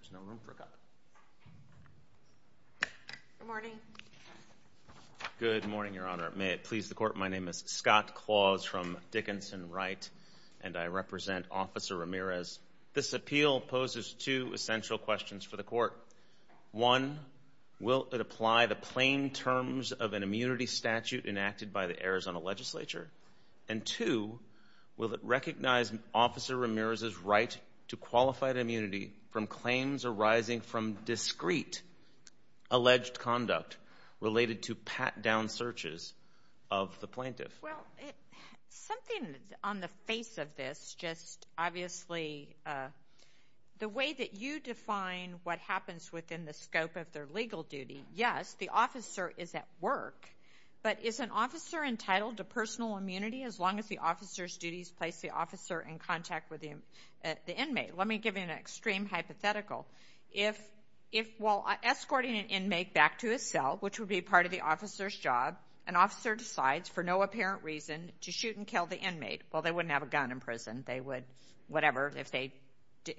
There's no room for a cup. Good morning. Good morning, Your Honor. May it please the Court, my name is Scott Claus from Dickinson Wright, and I represent Officer Ramirez. This appeal poses two essential questions for the Court. One, will it apply the plain terms of an immunity statute enacted by the Arizona Legislature? And two, will it recognize Officer Ramirez's right to qualified immunity from claims arising from discrete alleged conduct related to pat-down searches of the plaintiff? Well, something on the face of this, just obviously, the way that you define what happens within the scope of their legal duty, yes, the officer is at work, but is an officer entitled to personal immunity as long as the officer's duties place the officer in contact with the inmate? Let me give you an extreme hypothetical. If while escorting an inmate back to his cell, which would be part of the officer's job, an officer decides for no apparent reason to shoot and kill the inmate, well, they wouldn't have a gun in prison, they would, whatever, if they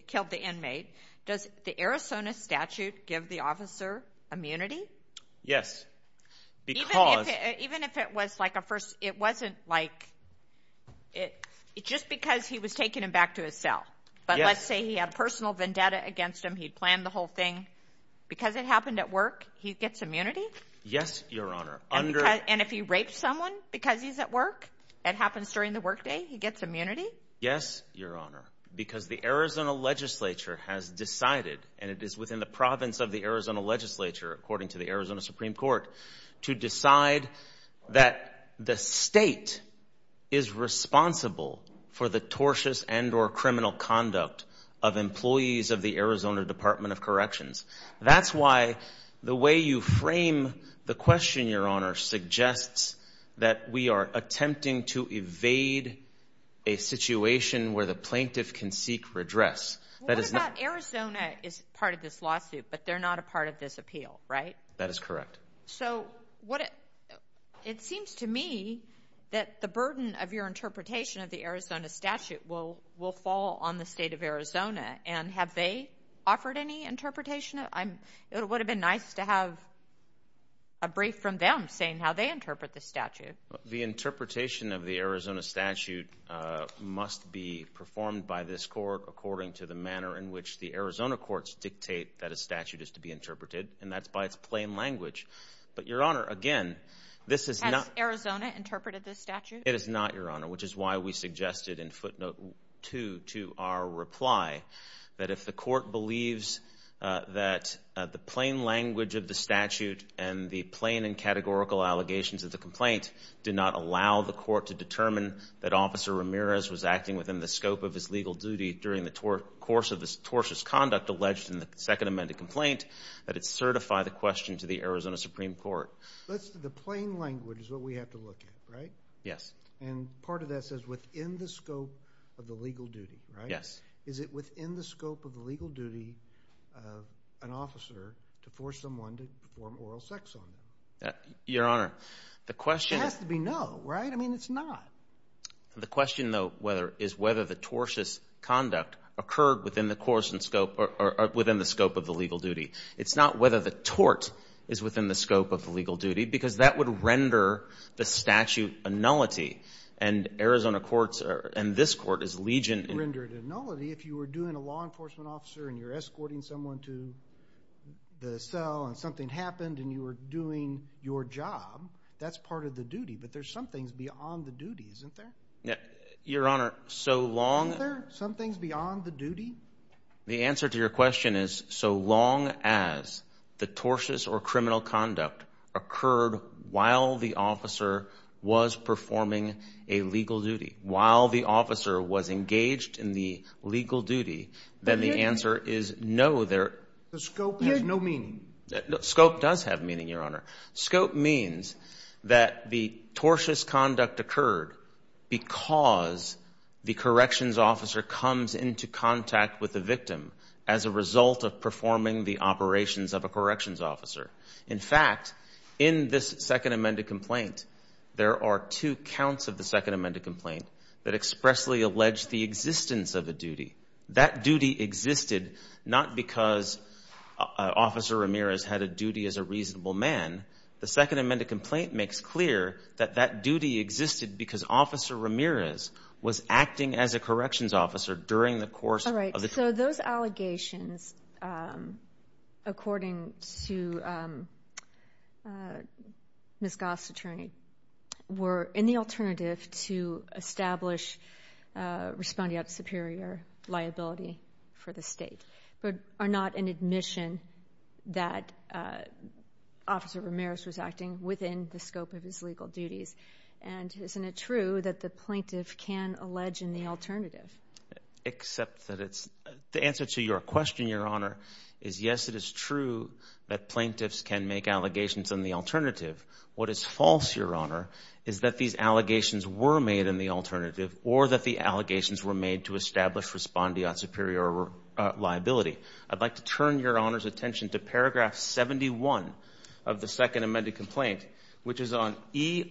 killed the inmate. Does the Arizona statute give the officer immunity? Yes, because... Even if it was like a first, it wasn't like, it's just because he was taken back to his cell. But let's say he had a personal vendetta against him, he planned the whole thing. Because it happened at work, he gets immunity? Yes, Your Honor. And if he raped someone because he's at work, it happens during the workday, he gets immunity? Yes, Your Honor, because the Arizona legislature has decided, and it is within the province of the Arizona legislature, according to the Arizona Supreme Court, to decide that the state is responsible for the tortious and or criminal conduct of employees of the Arizona Department of Corrections. That's why the way you frame the question, Your Honor, suggests that we are attempting to evade a situation where the plaintiff can seek redress. What about Arizona is part of this lawsuit, but they're not a part of this appeal, right? That is correct. So, it seems to me that the burden of your interpretation of the Arizona statute will fall on the state of Arizona. And have they offered any interpretation? It would have been nice to have a brief from them saying how they interpret the statute. The interpretation of the Arizona statute must be performed by this court according to the manner in which the Arizona courts dictate that a statute is to be interpreted, and that's by its plain language. But, Your Honor, again, this is not— Has Arizona interpreted this statute? It has not, Your Honor, which is why we suggested in footnote 2 to our reply that if the court believes that the plain language of the statute and the plain and categorical allegations of the complaint did not allow the court to determine that Officer Ramirez was acting within the scope of his legal duty during the course of this tortious conduct alleged in the second amended complaint, that it certify the question to the Arizona Supreme Court. The plain language is what we have to look at, right? Yes. And part of that says within the scope of the legal duty, right? Yes. Is it within the scope of the legal duty of an officer to force someone to perform oral sex on them? Your Honor, the question— It has to be no, right? I mean, it's not. The question, though, is whether the tortious conduct occurred within the scope of the legal duty. It's not whether the tort is within the scope of the legal duty because that would render the statute a nullity, and Arizona courts and this court is legion— Render it a nullity if you were doing a law enforcement officer and you're escorting someone to the cell and something happened and you were doing your job. That's part of the duty, but there's some things beyond the duty, isn't there? Your Honor, so long— Isn't there some things beyond the duty? The answer to your question is so long as the tortious or criminal conduct occurred while the officer was performing a legal duty, while the officer was engaged in the legal duty, then the answer is no, there— The scope has no meaning. Scope does have meaning, Your Honor. Scope means that the tortious conduct occurred because the corrections officer comes into contact with the victim as a result of performing the operations of a corrections officer. In fact, in this Second Amendment complaint, there are two counts of the Second Amendment complaint that expressly allege the existence of a duty. That duty existed not because Officer Ramirez had a duty as a reasonable man. The Second Amendment complaint makes clear that that duty existed because Officer Ramirez was acting as a corrections officer during the course of the— for the State, but are not an admission that Officer Ramirez was acting within the scope of his legal duties. And isn't it true that the plaintiff can allege in the alternative? Except that it's—the answer to your question, Your Honor, is yes, it is true that plaintiffs can make allegations in the alternative. What is false, Your Honor, is that these allegations were made in the alternative or that the allegations were made to establish respondeat superior liability. I'd like to turn Your Honor's attention to paragraph 71 of the Second Amendment complaint, which is on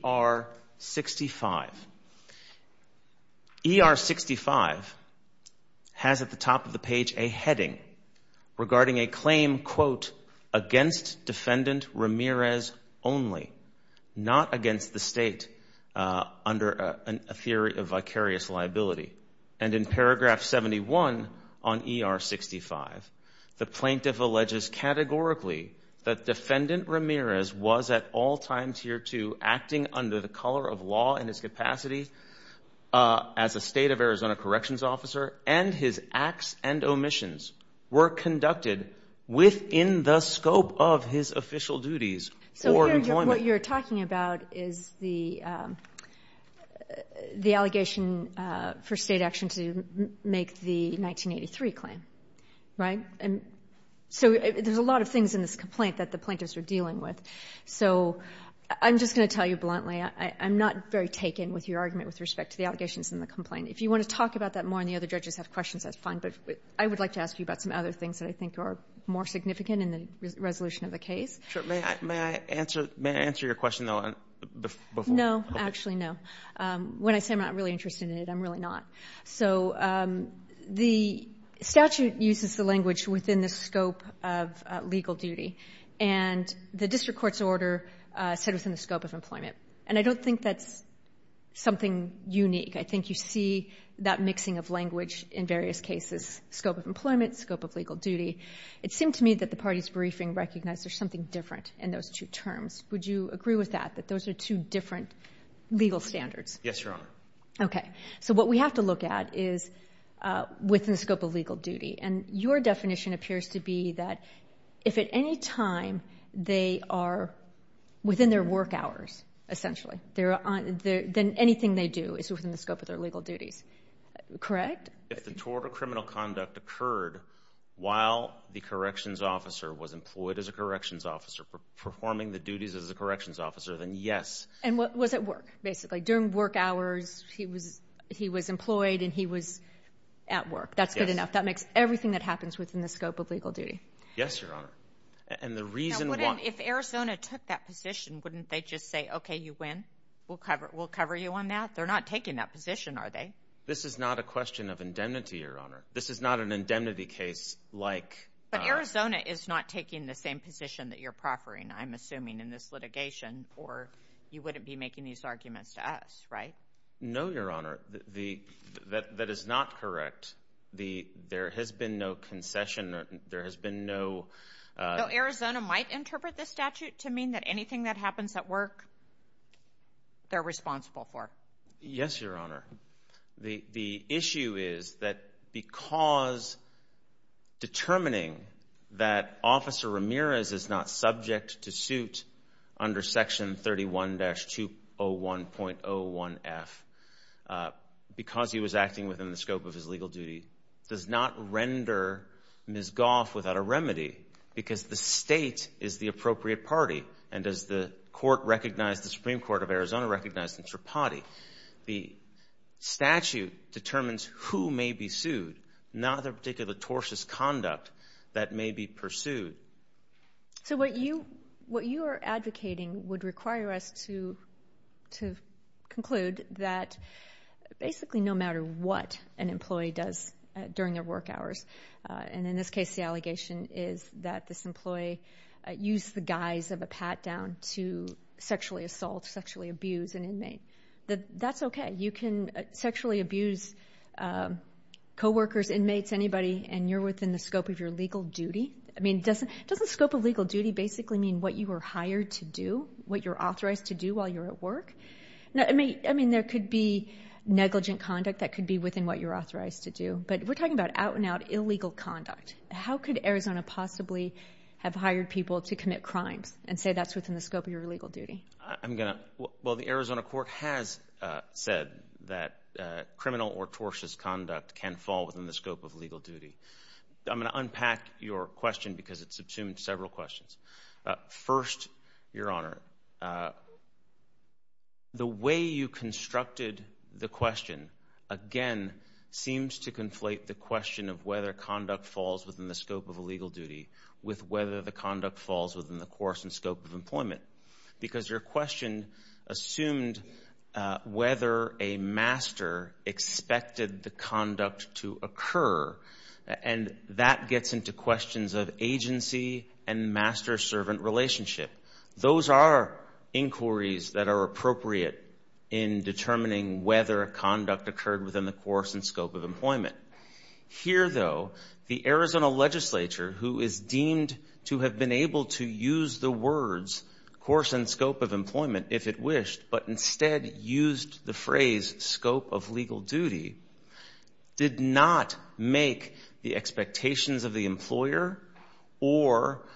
ER 65. ER 65 has at the top of the page a heading regarding a claim, quote, against Defendant Ramirez only, not against the State under a theory of vicarious liability. And in paragraph 71 on ER 65, the plaintiff alleges categorically that Defendant Ramirez was at all times hereto acting under the color of law in his capacity as a State of Arizona corrections officer, and his acts and omissions were conducted within the scope of his official duties or employment. So what you're talking about is the allegation for State action to make the 1983 claim. Right? So there's a lot of things in this complaint that the plaintiffs are dealing with. So I'm just going to tell you bluntly, I'm not very taken with your argument with respect to the allegations in the complaint. If you want to talk about that more and the other judges have questions, that's fine. But I would like to ask you about some other things that I think are more significant in the resolution of the case. Sure. May I answer your question, though, before? No. Actually, no. When I say I'm not really interested in it, I'm really not. So the statute uses the language within the scope of legal duty. And the district court's order said it was in the scope of employment. And I don't think that's something unique. I think you see that mixing of language in various cases, scope of employment, scope of legal duty. It seemed to me that the party's briefing recognized there's something different in those two terms. Would you agree with that, that those are two different legal standards? Yes, Your Honor. Okay. So what we have to look at is within the scope of legal duty. And your definition appears to be that if at any time they are within their work hours, essentially, then anything they do is within the scope of their legal duties. Correct? If the tort or criminal conduct occurred while the corrections officer was employed as a corrections officer, performing the duties as a corrections officer, then yes. And was at work, basically. During work hours, he was employed and he was at work. That's good enough. Yes. That makes everything that happens within the scope of legal duty. Yes, Your Honor. And the reason why. Now, if Arizona took that position, wouldn't they just say, okay, you win? We'll cover you on that? They're not taking that position, are they? This is not a question of indemnity, Your Honor. This is not an indemnity case like. But Arizona is not taking the same position that you're proffering, I'm assuming, in this litigation. Or you wouldn't be making these arguments to us, right? No, Your Honor. That is not correct. There has been no concession. There has been no. Though Arizona might interpret this statute to mean that anything that happens at work, they're responsible for. Yes, Your Honor. The issue is that because determining that Officer Ramirez is not subject to suit under Section 31-201.01F, because he was acting within the scope of his legal duty, does not render Ms. Goff without a remedy because the state is the appropriate party. And as the Supreme Court of Arizona recognized in Tripati, the statute determines who may be sued, not the particular tortious conduct that may be pursued. So what you are advocating would require us to conclude that basically no matter what an employee does during their work hours, and in this case the allegation is that this employee used the guise of a pat-down to sexually assault, sexually abuse an inmate. That's okay. You can sexually abuse coworkers, inmates, anybody, and you're within the scope of your legal duty. I mean, doesn't scope of legal duty basically mean what you were hired to do, what you're authorized to do while you're at work? I mean, there could be negligent conduct that could be within what you're authorized to do. But we're talking about out-and-out illegal conduct. How could Arizona possibly have hired people to commit crimes and say that's within the scope of your legal duty? Well, the Arizona court has said that criminal or tortious conduct can fall within the scope of legal duty. I'm going to unpack your question because it's assumed several questions. First, Your Honor, the way you constructed the question, again, seems to conflate the question of whether conduct falls within the scope of a legal duty with whether the conduct falls within the course and scope of employment because your question assumed whether a master expected the conduct to occur, and that gets into questions of agency and master-servant relationship. Those are inquiries that are appropriate in determining whether conduct occurred within the course and scope of employment. Here, though, the Arizona legislature, who is deemed to have been able to use the words course and scope of employment if it wished, but instead used the phrase scope of legal duty, did not make the expectations of the employer or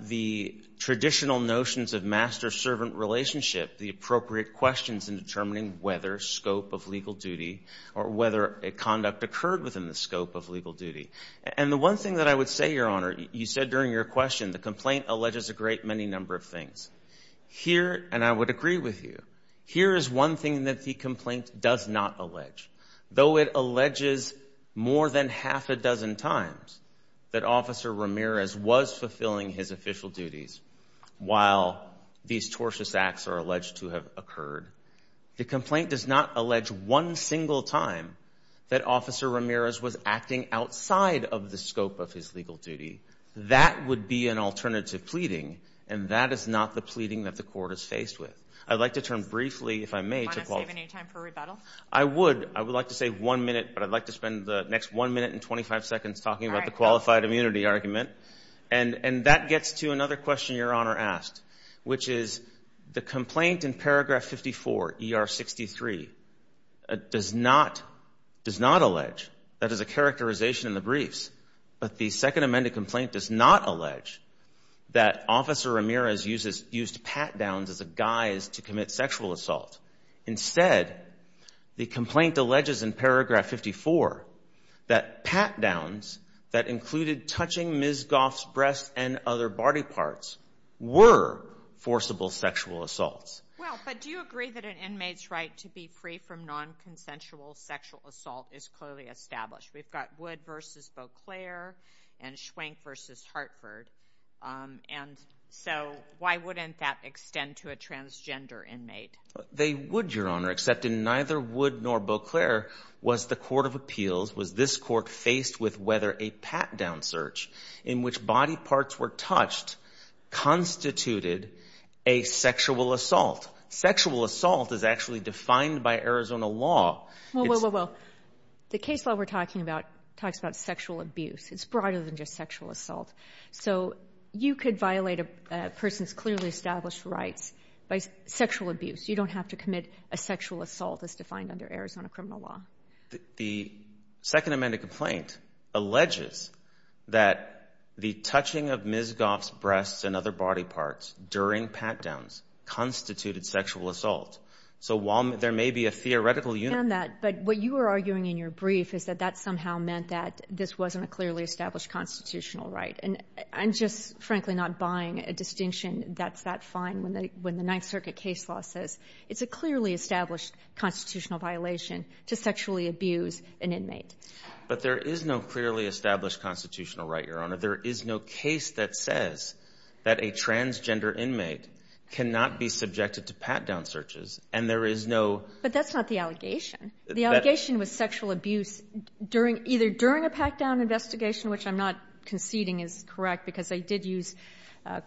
the traditional notions of master-servant relationship the appropriate questions in determining whether scope of legal duty or whether a conduct occurred within the scope of legal duty. And the one thing that I would say, Your Honor, you said during your question, the complaint alleges a great many number of things. Here, and I would agree with you, here is one thing that the complaint does not allege. Though it alleges more than half a dozen times that Officer Ramirez was fulfilling his official duties while these tortious acts are alleged to have occurred, the complaint does not allege one single time that Officer Ramirez was acting outside of the scope of his legal duty. That would be an alternative pleading, and that is not the pleading that the court is faced with. I'd like to turn briefly, if I may, to qualify. Do you want to save any time for rebuttal? I would. I would like to save one minute, but I'd like to spend the next one minute and 25 seconds talking about the qualified immunity argument. And that gets to another question Your Honor asked, which is the complaint in paragraph 54, ER 63, does not allege, that is a characterization in the briefs, but the second amended complaint does not allege that Officer Ramirez used pat-downs as a guise to commit sexual assault. Instead, the complaint alleges in paragraph 54 that pat-downs that included touching Ms. Goff's breasts and other body parts were forcible sexual assaults. Well, but do you agree that an inmate's right to be free from nonconsensual sexual assault is clearly established? We've got Wood v. Beauclair and Schwenk v. Hartford, and so why wouldn't that extend to a transgender inmate? They would, Your Honor, except in neither Wood nor Beauclair was the court of appeals, was this court faced with whether a pat-down search in which body parts were touched constituted a sexual assault. Sexual assault is actually defined by Arizona law. Well, the case law we're talking about talks about sexual abuse. It's broader than just sexual assault. So you could violate a person's clearly established rights by sexual abuse. You don't have to commit a sexual assault as defined under Arizona criminal law. The second amended complaint alleges that the touching of Ms. Goff's breasts and other body parts during pat-downs constituted sexual assault. So while there may be a theoretical unit. I understand that, but what you were arguing in your brief is that that somehow meant that this wasn't a clearly established constitutional right. And I'm just frankly not buying a distinction that's that fine when the Ninth Circuit case law says it's a clearly established constitutional violation to sexually abuse an inmate. But there is no clearly established constitutional right, Your Honor. There is no case that says that a transgender inmate cannot be subjected to pat-down searches, and there is no. But that's not the allegation. The allegation was sexual abuse during either during a pat-down investigation, which I'm not conceding is correct, because they did use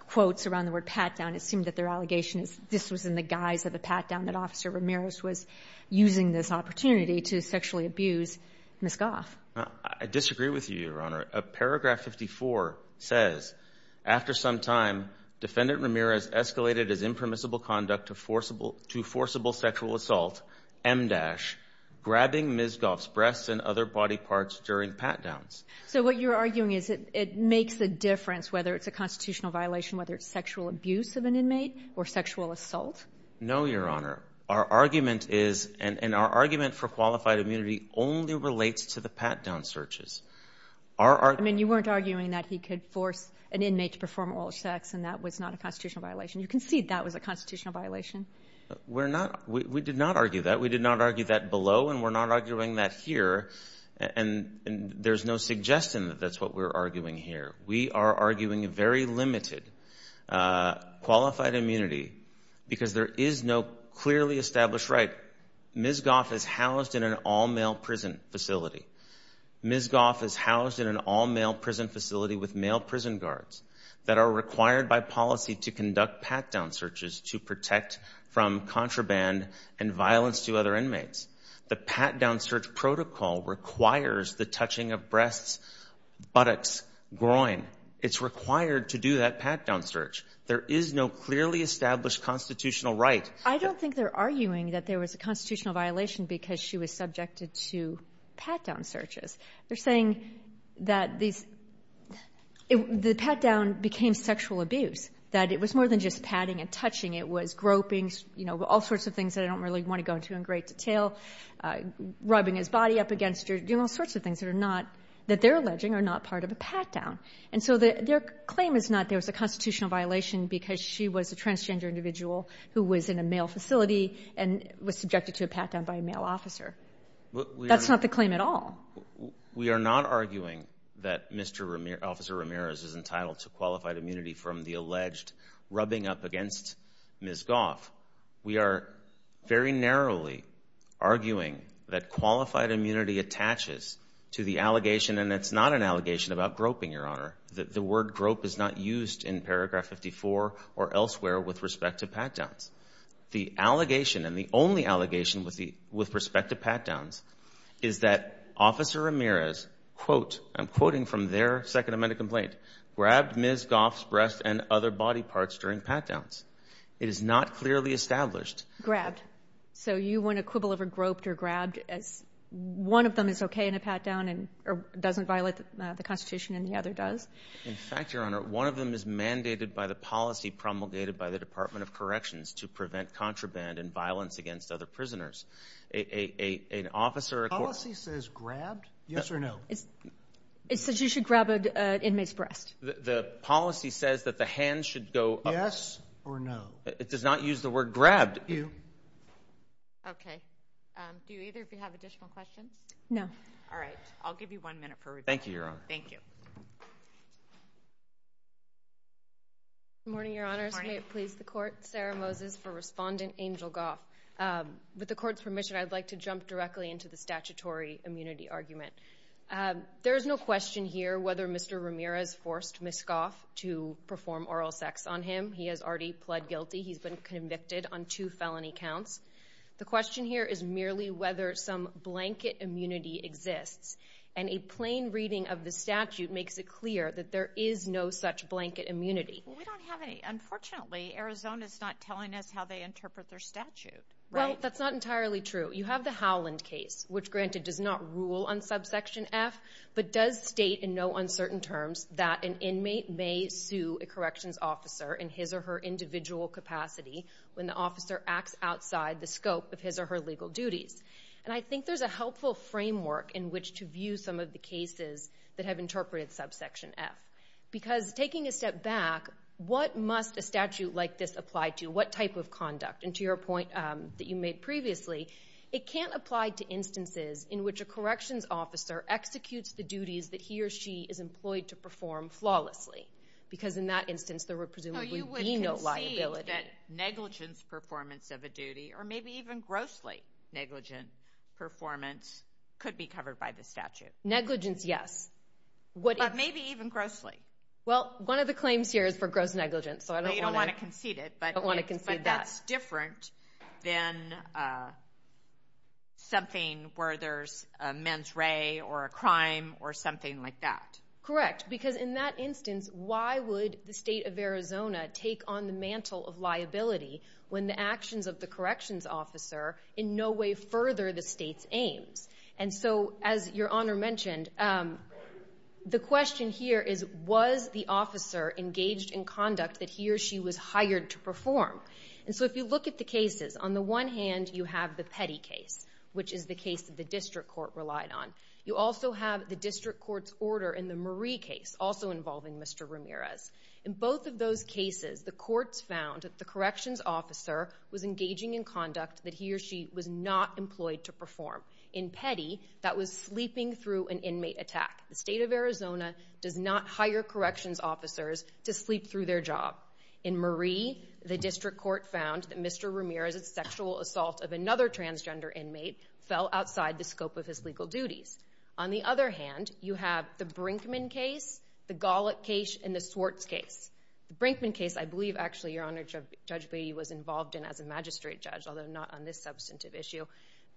quotes around the word pat-down. It seemed that their allegation is this was in the guise of a pat-down that Officer Ramirez was using this opportunity to sexually abuse Ms. Goff. I disagree with you, Your Honor. Paragraph 54 says, after some time, Defendant Ramirez escalated his impermissible conduct to forcible sexual assault, MDASH, grabbing Ms. Goff's breasts and other body parts during pat-downs. So what you're arguing is it makes a difference whether it's a constitutional violation, whether it's sexual abuse of an inmate or sexual assault? No, Your Honor. Our argument is, and our argument for qualified immunity only relates to the pat-down searches. I mean, you weren't arguing that he could force an inmate to perform oral sex, and that was not a constitutional violation. You concede that was a constitutional violation. We're not. We did not argue that. We did not argue that below, and we're not arguing that here. And there's no suggestion that that's what we're arguing here. We are arguing a very limited qualified immunity because there is no clearly established right. Ms. Goff is housed in an all-male prison facility. Ms. Goff is housed in an all-male prison facility with male prison guards that are required by policy to conduct pat-down searches to protect from contraband and violence to other inmates. The pat-down search protocol requires the touching of breasts, buttocks, groin. It's required to do that pat-down search. There is no clearly established constitutional right. I don't think they're arguing that there was a constitutional violation because she was subjected to pat-down searches. They're saying that these the pat-down became sexual abuse, that it was more than just patting and touching. It was groping, you know, all sorts of things that I don't really want to go into in great detail, rubbing his body up against her, doing all sorts of things that are not that they're alleging are not part of a pat-down. And so their claim is not there was a constitutional violation because she was a transgender individual who was in a male facility and was subjected to a pat-down by a male officer. That's not the claim at all. We are not arguing that Mr. Ramirez, Officer Ramirez, is entitled to qualified immunity from the alleged rubbing up against Ms. Goff. We are very narrowly arguing that qualified immunity attaches to the allegation that the word grope is not used in paragraph 54 or elsewhere with respect to pat-downs. The allegation and the only allegation with respect to pat-downs is that Officer Ramirez, quote, I'm quoting from their Second Amendment complaint, grabbed Ms. Goff's breast and other body parts during pat-downs. It is not clearly established. Grabbed. So you want a quibble of a groped or grabbed as one of them is okay in a pat-down and doesn't violate the Constitution and the other does? In fact, Your Honor, one of them is mandated by the policy promulgated by the Department of Corrections to prevent contraband and violence against other prisoners. An officer... The policy says grabbed? Yes or no? It says you should grab an inmate's breast. The policy says that the hands should go... Yes or no? It does not use the word grabbed. Okay. Do either of you have additional questions? No. All right. I'll give you one minute for review. Thank you, Your Honor. Thank you. Good morning, Your Honors. Good morning. May it please the Court. Sarah Moses for Respondent Angel Goff. With the Court's permission, I'd like to jump directly into the statutory immunity argument. There is no question here whether Mr. Ramirez forced Ms. Goff to perform oral sex on him. He has already pled guilty. He's been convicted on two felony counts. The question here is merely whether some blanket immunity exists, and a plain reading of the statute makes it clear that there is no such blanket immunity. We don't have any. Unfortunately, Arizona's not telling us how they interpret their statute, right? Well, that's not entirely true. You have the Howland case, which, granted, does not rule on subsection F, but does state in no uncertain terms that an inmate may sue a corrections officer in his or her individual capacity when the officer acts outside the scope of his or her legal duties. And I think there's a helpful framework in which to view some of the cases that have interpreted subsection F, because taking a step back, what must a statute like this apply to? What type of conduct? And to your point that you made previously, it can't apply to instances in which a corrections officer executes the duties that he or she is employed to perform flawlessly, because in that instance there would presumably be no liability. So you would concede that negligence performance of a duty, or maybe even grossly negligent performance, could be covered by the statute? Negligence, yes. But maybe even grossly? Well, one of the claims here is for gross negligence, so I don't want to concede that. But that's different than something where there's a mens re or a crime or something like that. Correct. Correct, because in that instance, why would the state of Arizona take on the mantle of liability when the actions of the corrections officer in no way further the state's aims? And so, as Your Honor mentioned, the question here is, was the officer engaged in conduct that he or she was hired to perform? And so if you look at the cases, on the one hand you have the Petty case, which is the case that the district court relied on. You also have the district court's order in the Marie case, also involving Mr. Ramirez. In both of those cases, the courts found that the corrections officer was engaging in conduct that he or she was not employed to perform. In Petty, that was sleeping through an inmate attack. The state of Arizona does not hire corrections officers to sleep through their job. In Marie, the district court found that Mr. Ramirez's sexual assault of another transgender inmate fell outside the scope of his legal duties. On the other hand, you have the Brinkman case, the Golic case, and the Swartz case. The Brinkman case, I believe, actually, Your Honor, Judge Beatty was involved in as a magistrate judge, although not on this substantive issue.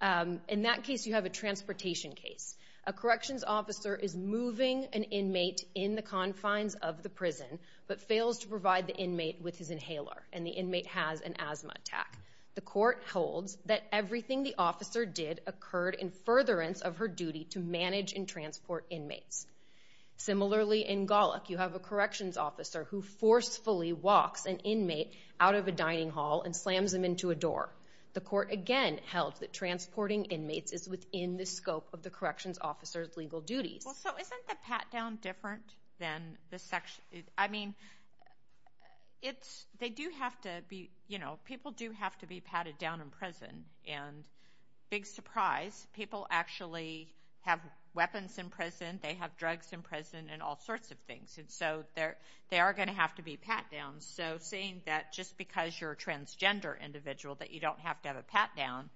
In that case, you have a transportation case. A corrections officer is moving an inmate in the confines of the prison, but fails to provide the inmate with his inhaler, and the inmate has an asthma attack. The court holds that everything the officer did occurred in furtherance of her duty to manage and transport inmates. Similarly, in Golic, you have a corrections officer who forcefully walks an inmate out of a dining hall and slams him into a door. The court, again, held that transporting inmates is within the scope of the corrections officer's legal duties. Well, so isn't the pat-down different than the section? I mean, it's, they do have to be, you know, people do have to be patted down in prison. And big surprise, people actually have weapons in prison, they have drugs in prison, and all sorts of things. And so, they are going to have to be pat-downs. So, seeing that just because you're a transgender individual that you don't have to have a pat-down,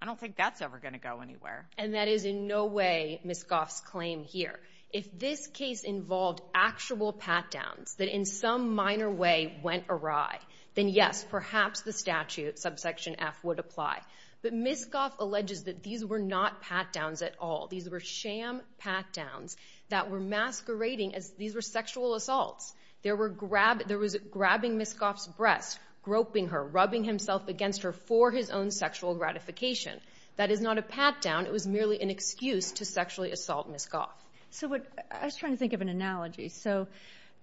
I don't think that's ever going to go anywhere. And that is in no way Ms. Goff's claim here. If this case involved actual pat-downs that in some minor way went awry, then yes, perhaps the statute, subsection F, would apply. But Ms. Goff alleges that these were not pat-downs at all. These were sham pat-downs that were masquerading as, these were sexual assaults. There was grabbing Ms. Goff's breast, groping her, rubbing himself against her for his own sexual gratification. That is not a pat-down, it was merely an excuse to sexually assault Ms. Goff. So, I was trying to think of an analogy. So,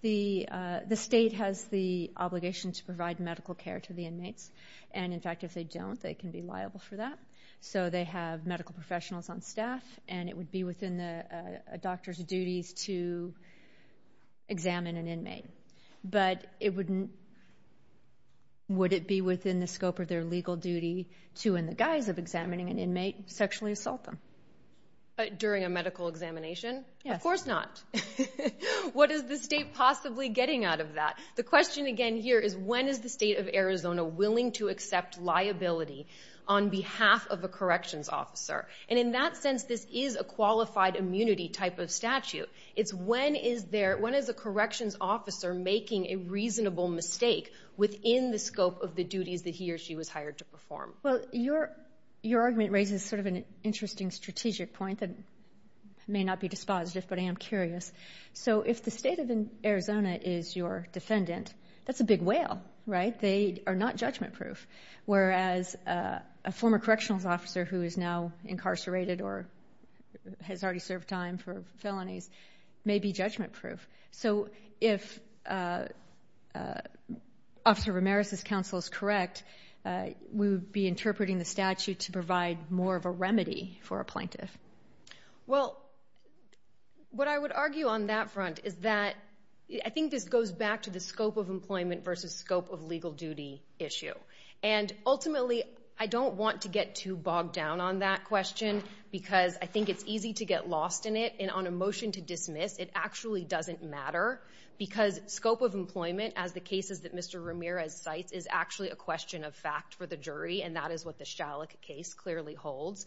the state has the obligation to provide medical care to the inmates. And in fact, if they don't, they can be liable for that. So, they have medical professionals on staff, and it would be within the doctor's duties to examine an inmate. But, would it be within the scope of their legal duty to, in the guise of examining an inmate, sexually assault them? During a medical examination? Yes. Of course not. What is the state possibly getting out of that? The question again here is, when is the state of Arizona willing to accept liability on behalf of a corrections officer? And in that sense, this is a qualified immunity type of statute. It's when is there, when is a corrections officer making a reasonable mistake within the scope of the duties that he or she was hired to perform? Well, your argument raises sort of an interesting strategic point that may not be dispositive, but I am curious. So, if the state of Arizona is your defendant, that's a big whale, right? They are not judgment-proof. Whereas, a former corrections officer who is now incarcerated or has already served time for felonies may be judgment-proof. So, if Officer Ramirez's counsel is correct, we would be interpreting the statute to provide more of a remedy for a plaintiff. Well, what I would argue on that front is that I think this goes back to the scope of employment versus scope of legal duty issue. And, ultimately, I don't want to get too bogged down on that question because I think it's easy to get lost in it. And, on a motion to dismiss, it actually doesn't matter because scope of employment, as the cases that Mr. Ramirez cites, is actually a question of fact for the jury, and that is what the Shalik case clearly holds.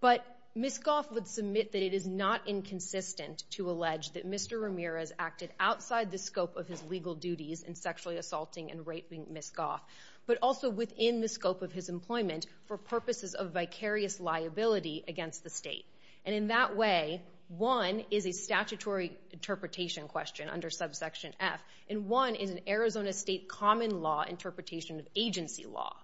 But, Ms. Goff would submit that it is not inconsistent to allege that Mr. Ramirez acted outside the scope of his legal duties in sexually assaulting and raping Ms. Goff, but also within the scope of his employment for purposes of vicarious liability against the state. And, in that way, one is a statutory interpretation question under subsection F, and one is an Arizona state common law interpretation of agency law.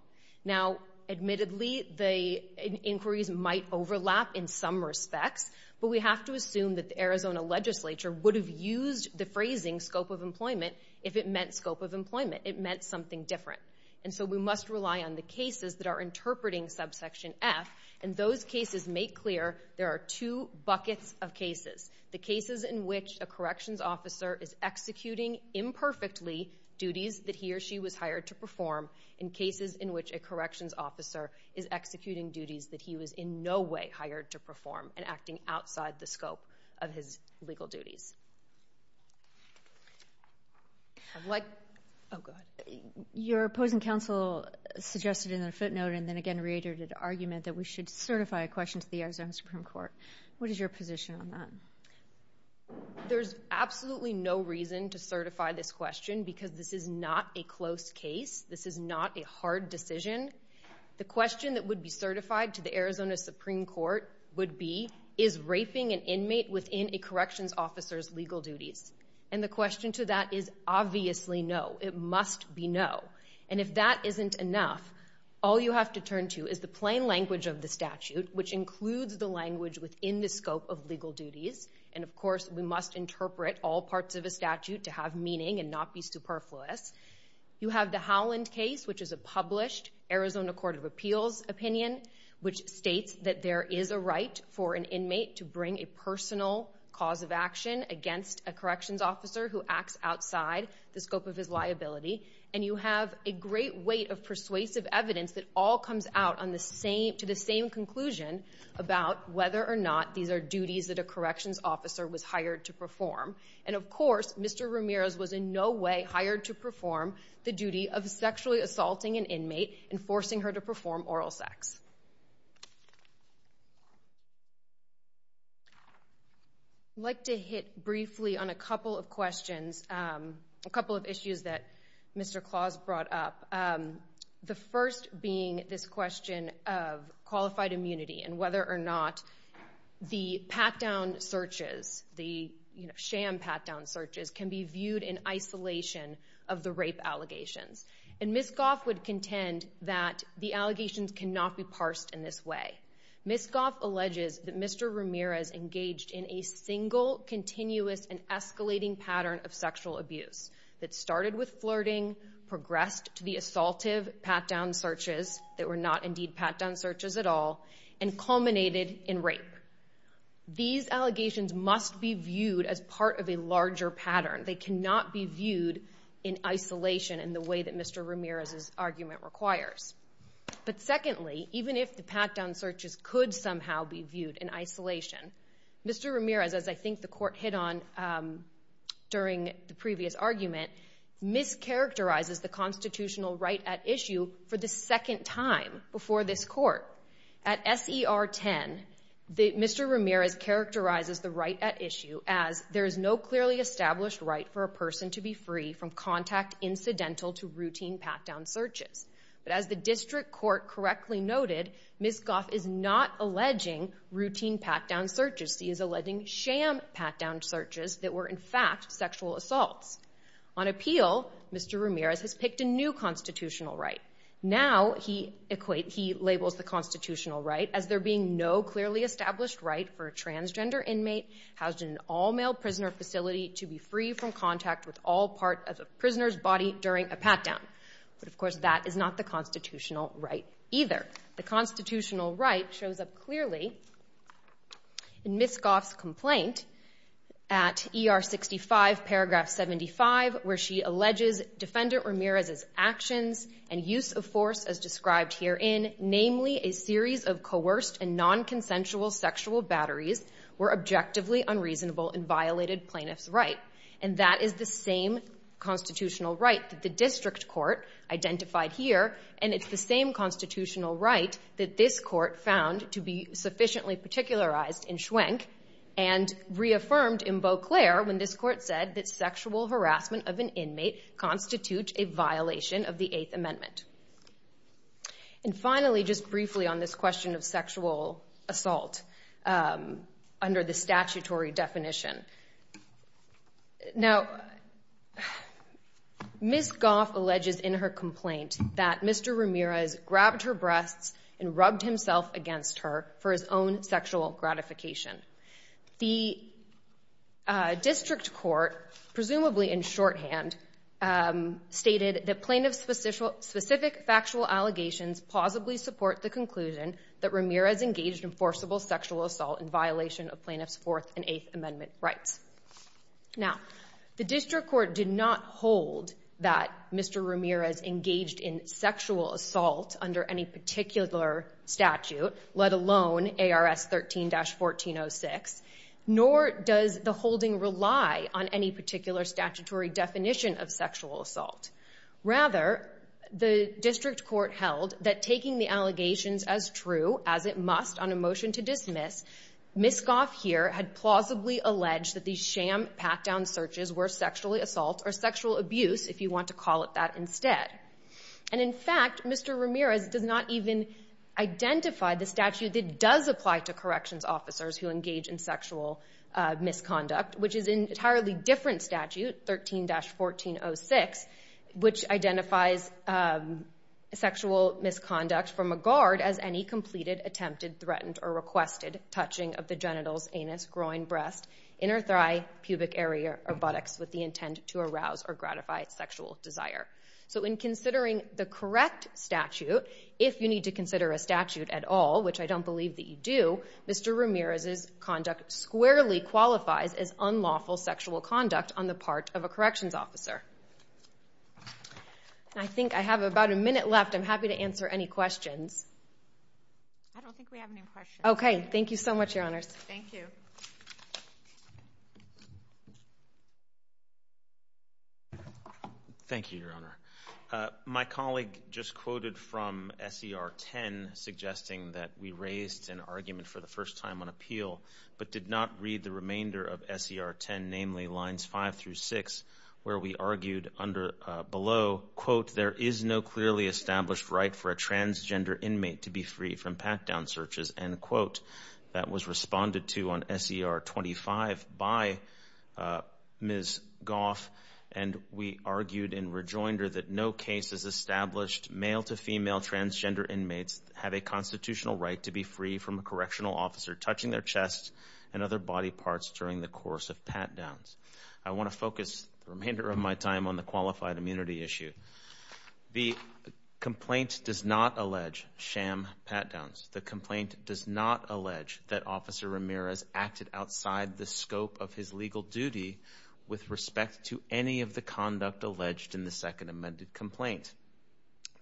Now, admittedly, the inquiries might overlap in some respects, but we have to assume that the Arizona legislature would have used the phrasing scope of employment if it meant scope of employment. It meant something different. And so, we must rely on the cases that are interpreting subsection F, and those cases make clear there are two buckets of cases. The cases in which a corrections officer is executing imperfectly duties that he or she was hired to perform, and cases in which a corrections officer is executing duties that he was in no way hired to perform, and acting outside the scope of his legal duties. I'd like—oh, go ahead. Your opposing counsel suggested in a footnote, and then again reiterated the argument that we should certify a question to the Arizona Supreme Court. What is your position on that? There's absolutely no reason to certify this question because this is not a close case. This is not a hard decision. The question that would be certified to the Arizona Supreme Court would be, is raping an inmate within a corrections officer's legal duties? And the question to that is obviously no. It must be no. And if that isn't enough, all you have to turn to is the plain language of the statute, which includes the language within the scope of legal duties, and of course, we must interpret all parts of a statute to have meaning and not be superfluous. You have the Howland case, which is a published Arizona Court of Appeals opinion, which states that there is a right for an inmate to bring a personal cause of action against a corrections officer who acts outside the scope of his liability, and you have a great weight of persuasive evidence that all comes out to the same conclusion about whether or not these are duties that a corrections officer was hired to perform. And of course, Mr. Ramirez was in no way hired to perform the duty of sexually assaulting an inmate and forcing her to perform oral sex. I'd like to hit briefly on a couple of questions, a couple of issues that Mr. Claus brought up, the first being this question of qualified immunity and whether or not the pat-down searches, the sham pat-down searches, can be viewed in isolation of the rape allegations. And Ms. Goff would contend that the allegations cannot be parsed in this way. Ms. Goff alleges that Mr. Ramirez engaged in a single, continuous, and escalating pattern of sexual abuse that started with flirting, progressed to the assaultive pat-down searches that were not indeed pat-down searches at all, and culminated in rape. These allegations must be viewed as part of a larger pattern. They cannot be viewed in isolation in the way that Mr. Ramirez's argument requires. But secondly, even if the pat-down searches could somehow be viewed in isolation, Mr. Ramirez, as I think the Court hit on during the previous argument, mischaracterizes the constitutional right at issue for the second time before this Court. At SER 10, Mr. Ramirez characterizes the right at issue as there is no clearly established right for a person to be free from contact incidental to routine pat-down searches. But as the District Court correctly noted, Ms. Goff is not alleging routine pat-down searches. She is alleging sham pat-down searches that were, in fact, sexual assaults. On appeal, Mr. Ramirez has picked a new constitutional right. Now, he equates—he labels the constitutional right as there being no clearly established right for a transgender inmate housed in an all-male prisoner facility to be free from contact with all part of a prisoner's body during a pat-down. But of course, that is not the constitutional right either. The constitutional right shows up clearly in Ms. Goff's complaint at ER 65, paragraph 75, where she alleges Defendant Ramirez's actions and use of force as described herein, namely a series of coerced and nonconsensual sexual batteries, were objectively unreasonable and violated plaintiff's right. And that is the same constitutional right that the District Court identified here, and it's the same constitutional right that this Court found to be sufficiently particularized in Schwenk and reaffirmed in Beauclair when this Court said that sexual harassment of an inmate constitutes a violation of the Eighth Amendment. And finally, just briefly on this question of sexual assault under the statutory definition. Now, Ms. Goff alleges in her complaint that Mr. Ramirez grabbed her breasts and rubbed himself against her for his own sexual gratification. The District Court, presumably in shorthand, stated that plaintiff's specific factual allegations plausibly support the conclusion that Ramirez engaged in forcible sexual assault in violation of plaintiff's Fourth and Eighth Amendment rights. Now, the District Court did not hold that Mr. Ramirez engaged in sexual assault under any particular statute, let alone ARS 13-1406, nor does the holding rely on any particular statutory definition of sexual assault. Rather, the District Court held that taking the allegations as true, as it must on a motion to dismiss, Ms. Goff here had plausibly alleged that these sham pat-down searches were sexual assault or sexual abuse, if you want to call it that instead. And, in fact, Mr. Ramirez does not even identify the statute that does apply to corrections officers who engage in sexual misconduct, which is an entirely different statute, 13-1406, which identifies sexual misconduct from a guard as any completed, attempted, threatened, or requested touching of the genitals, anus, groin, breast, inner thigh, pubic area, or buttocks with the intent to arouse or gratify sexual desire. So, in considering the correct statute, if you need to consider a statute at all, which I don't believe that you do, Mr. Ramirez's conduct squarely qualifies as unlawful sexual conduct on the part of a corrections officer. And I think I have about a minute left. I'm happy to answer any questions. I don't think we have any questions. Okay. Thank you so much, Your Honors. Thank you. Okay. Thank you, Your Honor. My colleague just quoted from S.E.R. 10, suggesting that we raised an argument for the first time on appeal, but did not read the remainder of S.E.R. 10, namely lines 5 through 6, where we argued below, quote, there is no clearly established right for a transgender inmate to be free from pat-down searches, end quote. That was responded to on S.E.R. 25 by Ms. Goff, and we argued in rejoinder that no case has established male to female transgender inmates have a constitutional right to be free from a correctional officer touching their chest and other body parts during the course of pat-downs. I want to focus the remainder of my time on the qualified immunity issue. The complaint does not allege sham pat-downs. The complaint does not allege that Officer Ramirez acted outside the scope of his legal duty with respect to any of the conduct alleged in the second amended complaint.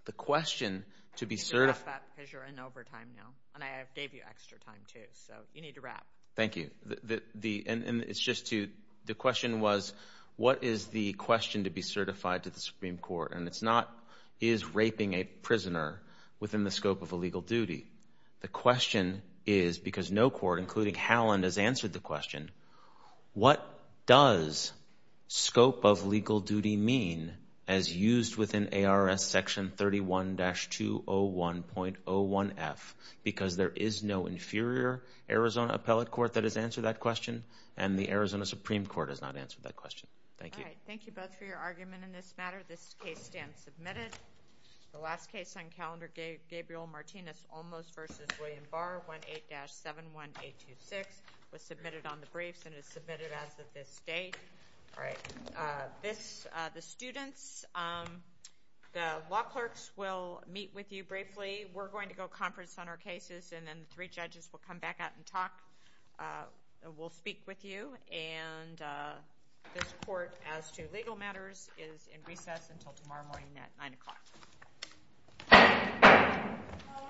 The question to be certified... You can wrap that, because you're in overtime now, and I gave you extra time, too, so you need to wrap. Thank you. And it's just to, the question was, what is the question to be certified to the Supreme The question is, because no court, including Halland, has answered the question, what does scope of legal duty mean as used within ARS section 31-201.01F, because there is no inferior Arizona appellate court that has answered that question, and the Arizona Supreme Court has not answered that question. Thank you. All right. Thank you both for your argument in this matter. This case stands submitted. The last case on calendar, Gabriel Martinez Olmos v. William Barr, 18-71826, was submitted on the briefs and is submitted as of this date. All right. This, the students, the law clerks will meet with you briefly. We're going to go conference on our cases, and then the three judges will come back out and talk, will speak with you, and this court as to legal matters is in recess until tomorrow morning at 9 o'clock. All rise.